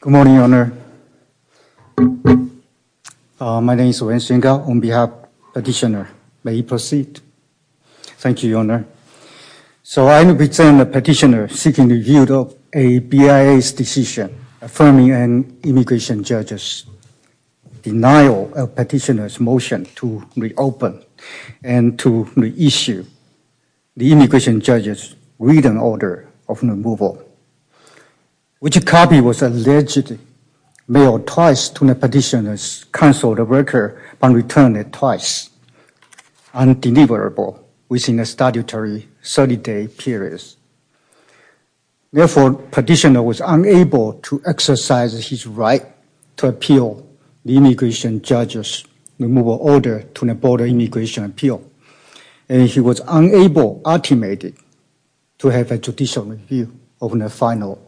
Good morning, Your Honor. Uh my name is Wayne Shinga on behalf of petitioner. May you proceed? Thank you, Your Honor. So I represent the petitioner seeking review of a BIA's decision affirming an immigration judge's denial of petitioner's motion to reopen and to reissue the immigration judge's written order of removal, which copy was allegedly mailed twice to the petitioner's counsel, the worker, and returned it twice. The petitioner was unable to exercise his right to appeal the immigration judge's removal order to the Board of Immigration Appeal, and he was unable to have a judicial review of the final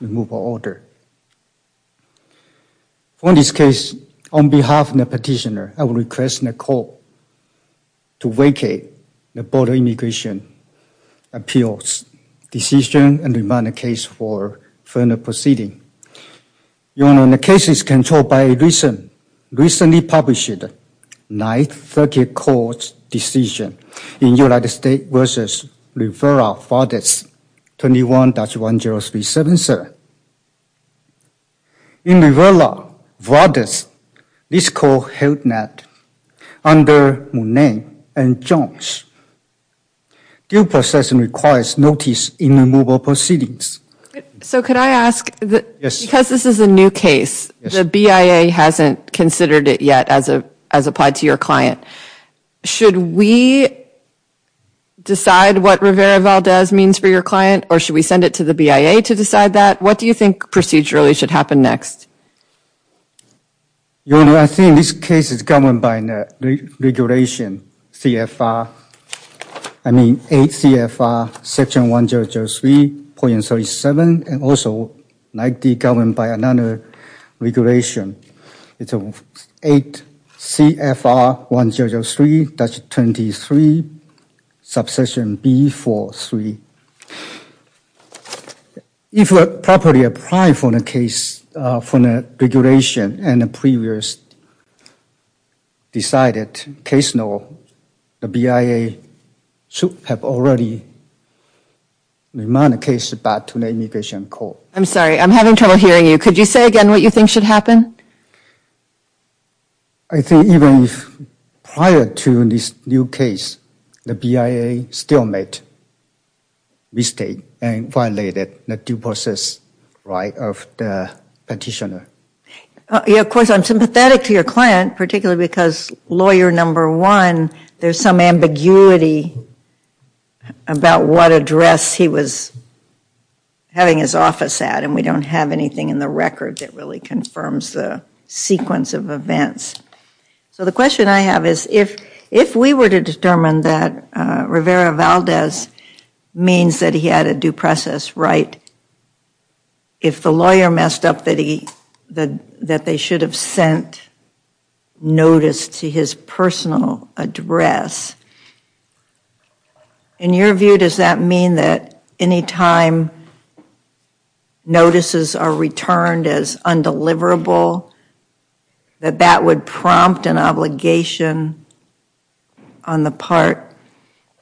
removal order. The petitioner was unable to have a judicial review of the final removal order. For this case, on behalf of the petitioner, I would request the court to vacate the Board of Immigration Appeal's decision and demand a case for further proceeding. Your Honor, the case is controlled by a recently published 9th Circuit Court's decision in United States v. Rivera-Vargas 21-1037, sir. In Rivera-Vargas, this court held not under Monet and Jones. Due process requires notice in removal proceedings. So could I ask, because this is a new case, the BIA hasn't considered it yet as applied to your client, should we decide what Rivera-Vargas means for your client, or should we send it to the BIA to decide that? What do you think procedurally should happen next? Your Honor, I think this case is governed by regulation CFR, I mean 8 CFR section 1003.37, and also like the government by another regulation. It's 8 CFR 1003.23, subsection B43. If properly applied for the case from the regulation and the previous decided case, no, the BIA should have already demanded a case back to the Immigration Court. I'm sorry, I'm having trouble hearing you. Could you say again what you think should happen? I think even if prior to this new case, the BIA still made mistake and violated the due process right of the petitioner. Of course, I'm sympathetic to your client, particularly because lawyer number one, there's some ambiguity about what address he was having his office at, and we don't have anything in the record that really confirms the sequence of events. So the question I have is, if we were to determine that Rivera-Valdez means that he had a due process right, if the lawyer messed up that they should have sent notice to his personal address, in your view, does that mean that any time notices are returned as undeliverable, that that would prompt an obligation on the part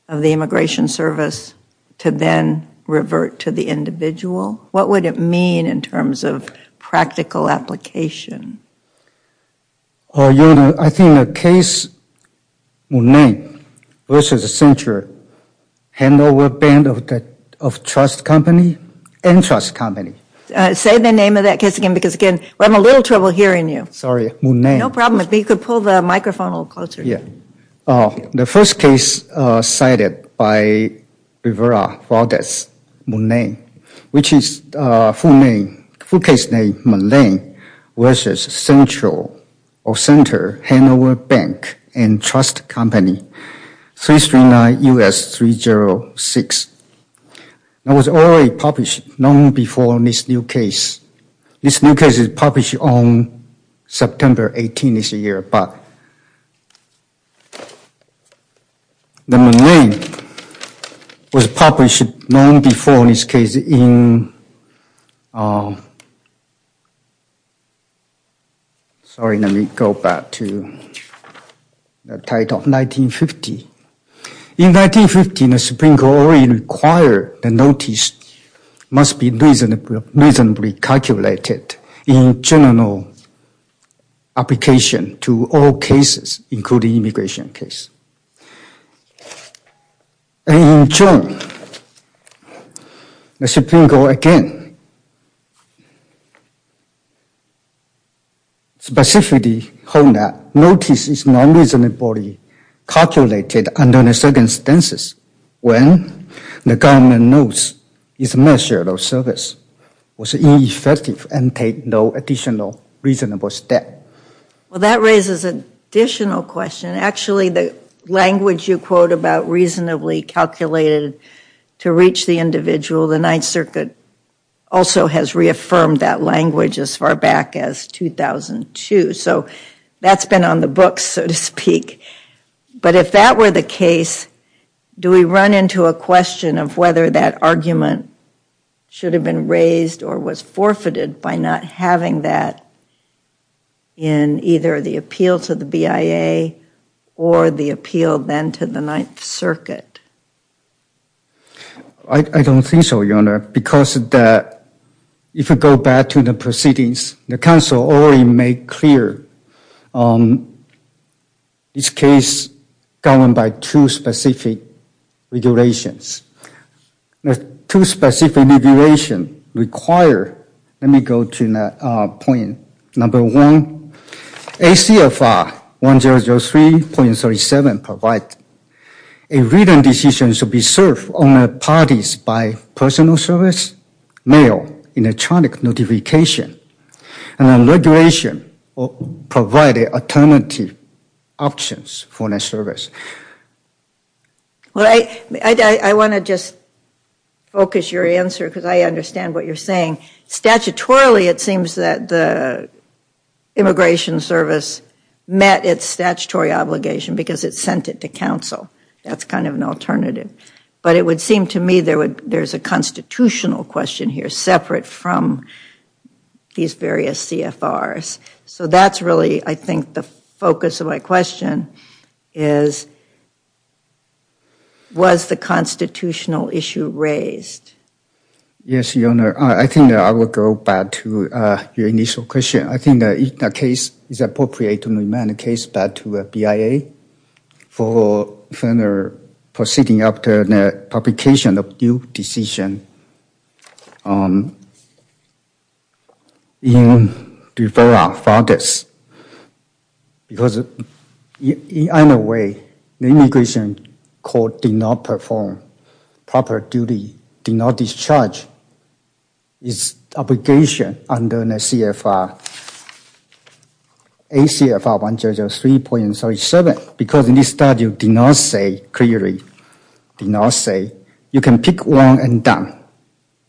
of the Immigration Service to then revert to the individual? What would it mean in terms of practical application? Your Honor, I think the case Monet v. Sincher handled with a band of trust company and trust company. Say the name of that case again, because again, I'm having a little trouble hearing you. Sorry, Monet. No problem, if you could pull the microphone a little closer. The first case cited by Rivera-Valdez, Monet, which is a full case named Monet v. Sincher handled with a bank and trust company, 339 U.S. 306. It was already published long before this new case. This new case is published on September 18 this year, but the name was published long before this case in, sorry, let me go back to the title, 1950. In 1950, the Supreme Court already required the notice must be reasonably calculated in general application to all cases, including immigration case. In June, the Supreme Court again specifically hold that notice is not reasonably calculated under the circumstances when the government knows its measure of service was ineffective and take no additional reasonable step. Well, that raises an additional question. Actually, the language you quote about reasonably calculated to reach the individual, the Ninth Circuit also has reaffirmed that language as far back as 2002. So that's been on the books, so to speak. But if that were the case, do we run into a question of whether that argument should have been raised or was forfeited by not having that in either the appeal to the BIA or the appeal then to the Ninth Circuit? I don't think so, Your Honor, because if you go back to the proceedings, the council already made clear this case governed by two specific regulations. The two specific regulations require, let me go to point number one, ACFR 1003.37 provide a written decision to be served on the parties by personal service, mail, electronic notification, and then regulation provided alternative options for the service. I want to just focus your answer because I understand what you're saying. Statutorily, it seems that the Immigration Service met its statutory obligation because it sent it to council. That's kind of an alternative. But it would seem to me there's a constitutional question here separate from these various CFRs. So that's really, I think, the focus of my question is, was the constitutional issue raised? Yes, Your Honor. I think I will go back to your initial question. I think the case is appropriate to remain the case back to the BIA for further proceeding after the publication of due decision. I think the case is appropriate to remain the case back to the BIA for further proceeding after the publication of due decision.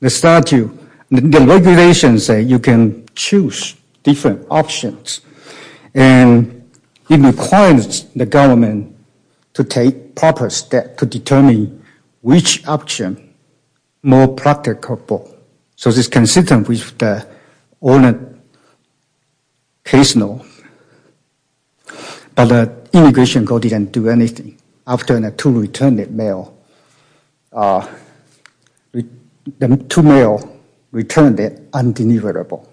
The statute, the regulations say you can choose different options. And it requires the government to take proper steps to determine which option is more practical. So this is consistent with the ordinary case law. But the immigration court didn't do anything. After the 2 returned mail, the 2 mail returned undeliverable.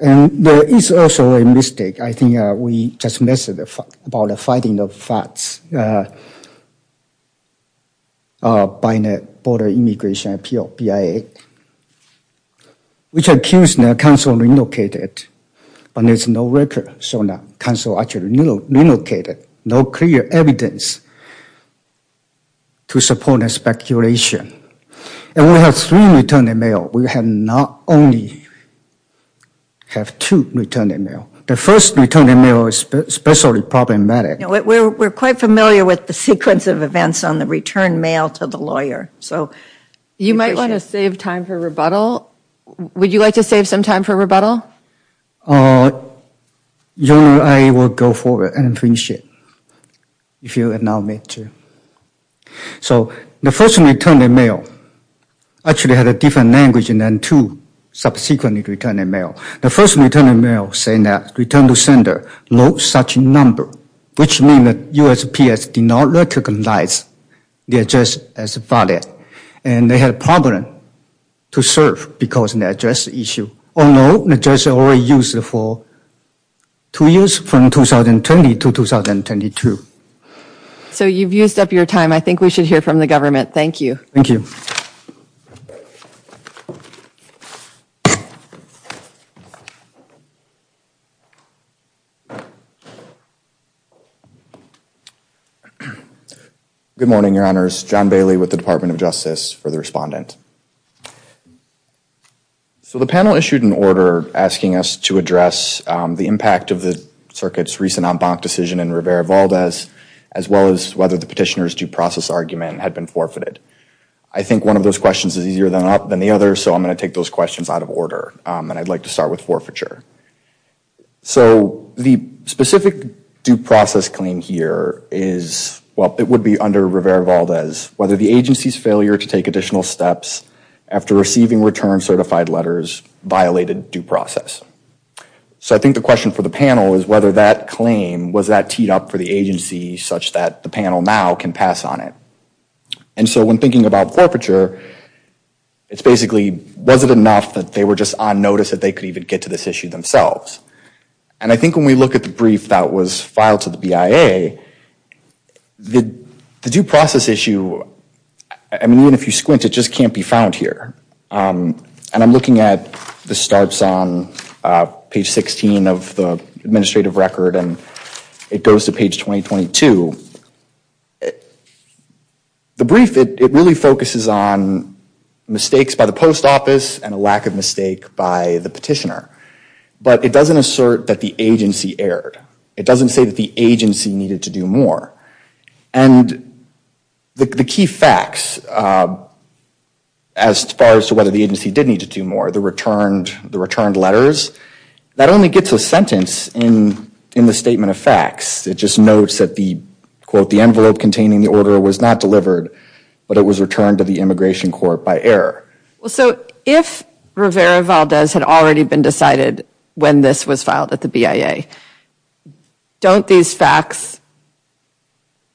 And there is also a mistake. I think we just missed about the finding of facts by the Border Immigration Appeal, BIA, which accused the council of relocating it. But there's no record. So the council actually relocated no clear evidence to support the speculation. And we have 3 returned mail. We have not only have 2 returned mail. The first returned mail is especially problematic. We're quite familiar with the sequence of events on the returned mail to the lawyer. You might want to save time for rebuttal. Would you like to save some time for rebuttal? I will go forward and finish it if you allow me to. So the first returned mail actually had a different language than 2 subsequently returned mail. The first returned mail saying that returned to sender, no such number, which means that USPS did not recognize the address as valid. And they had a problem to serve because of the address issue. Although the address is already used for 2 years from 2020 to 2022. So you've used up your time. I think we should hear from the government. Thank you. Thank you. Good morning, your honors. John Bailey with the Department of Justice for the respondent. So the panel issued an order asking us to address the impact of the circuit's recent en banc decision in Rivera-Valdez, as well as whether the petitioner's due process argument had been forfeited. I think one of those questions is easier than the other. So I'm going to take those questions out of order. And I'd like to start with forfeiture. So the specific due process claim here is, well, it would be under Rivera-Valdez whether the agency's failure to take additional steps after receiving return certified letters violated due process. So I think the question for the panel is whether that claim, was that teed up for the agency such that the panel now can pass on it. And so when thinking about forfeiture, it's basically, was it enough that they were just on notice that they could even get to this issue themselves? And I think when we look at the brief that was filed to the BIA, the due process issue, I mean, even if you squint, it just can't be found here. And I'm looking at the starts on page 16 of the administrative record, and it goes to page 2022. The brief, it really focuses on mistakes by the post office and a lack of mistake by the petitioner. But it doesn't assert that the agency erred. It doesn't say that the agency needed to do more. And the key facts as far as to whether the agency did need to do more, the returned letters, that only gets a sentence in the statement of facts. It just notes that the, quote, the envelope containing the order was not delivered, but it was returned to the immigration court by error. Well, so if Rivera-Valdez had already been decided when this was filed at the BIA, don't these facts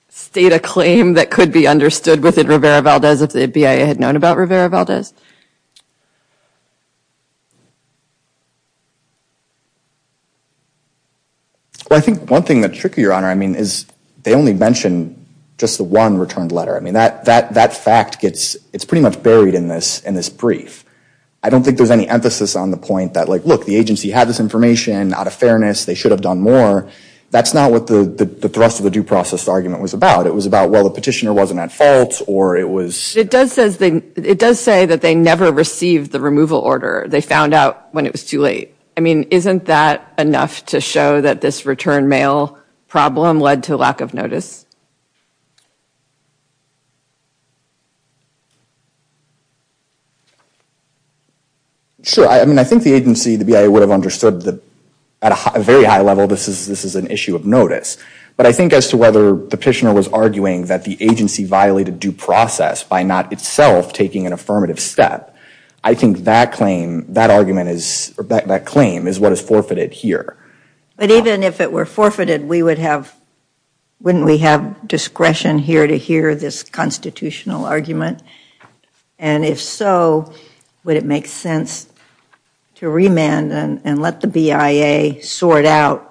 state a claim that could be understood within Rivera-Valdez if the BIA had known about Rivera-Valdez? Well, I think one thing that's tricky, Your Honor, I mean, is they only mention just the one returned letter. I mean, that fact gets, it's pretty much buried in this brief. I don't think there's any emphasis on the point that, like, look, the agency had this information. Out of fairness, they should have done more. That's not what the thrust of the due process argument was about. It was about, well, the petitioner wasn't at fault, or it was. It does say that they never received the removal order. They found out when it was too late. I mean, isn't that enough to show that this return mail problem led to lack of notice? Sure, I mean, I think the agency, the BIA, would have understood that at a very high level, this is an issue of notice. But I think as to whether the petitioner was arguing that the agency violated due process by not itself taking an affirmative step, I think that claim is what is forfeited here. But even if it were forfeited, wouldn't we have discretion here to hear this constitutional argument? And if so, would it make sense to remand and let the BIA sort out,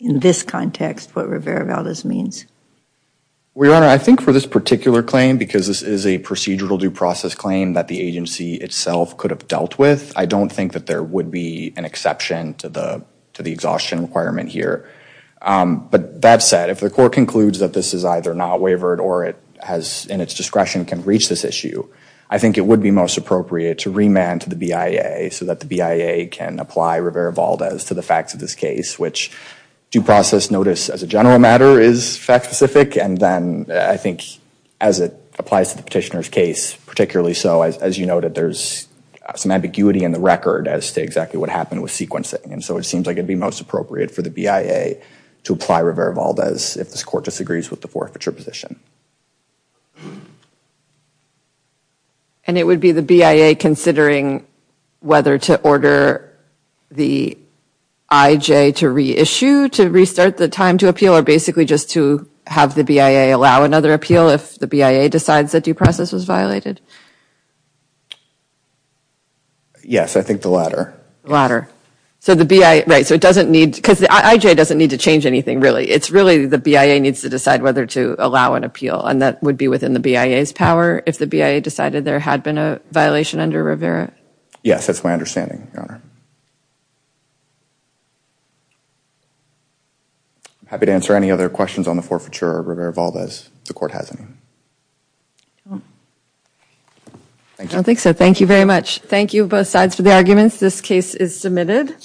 in this context, what Rivera-Valdez means? Well, Your Honor, I think for this particular claim, because this is a procedural due process claim that the agency itself could have dealt with, I don't think that there would be an exception to the exhaustion requirement here. But that said, if the court concludes that this is either not wavered or it has, in its discretion, can reach this issue, I think it would be most appropriate to remand to the BIA so that the BIA can apply Rivera-Valdez to the facts of this case, which due process notice, as a general matter, is fact-specific. And then I think as it applies to the petitioner's case, particularly so, as you noted, there's some ambiguity in the record as to exactly what happened with sequencing. And so it seems like it would be most appropriate for the BIA to apply Rivera-Valdez if this court disagrees with the forfeiture position. And it would be the BIA considering whether to order the IJ to reissue, to restart the time to appeal, or basically just to have the BIA allow another appeal if the BIA decides that due process was violated? Yes, I think the latter. The latter. So the BIA, right, so it doesn't need, because the IJ doesn't need to change anything really. It's really the BIA needs to decide whether to allow an appeal and that would be within the BIA's power if the BIA decided there had been a violation under Rivera? Yes, that's my understanding, Your Honor. I'm happy to answer any other questions on the forfeiture of Rivera-Valdez if the court has any. I don't think so. Thank you very much. Thank you both sides for the arguments. This case is submitted.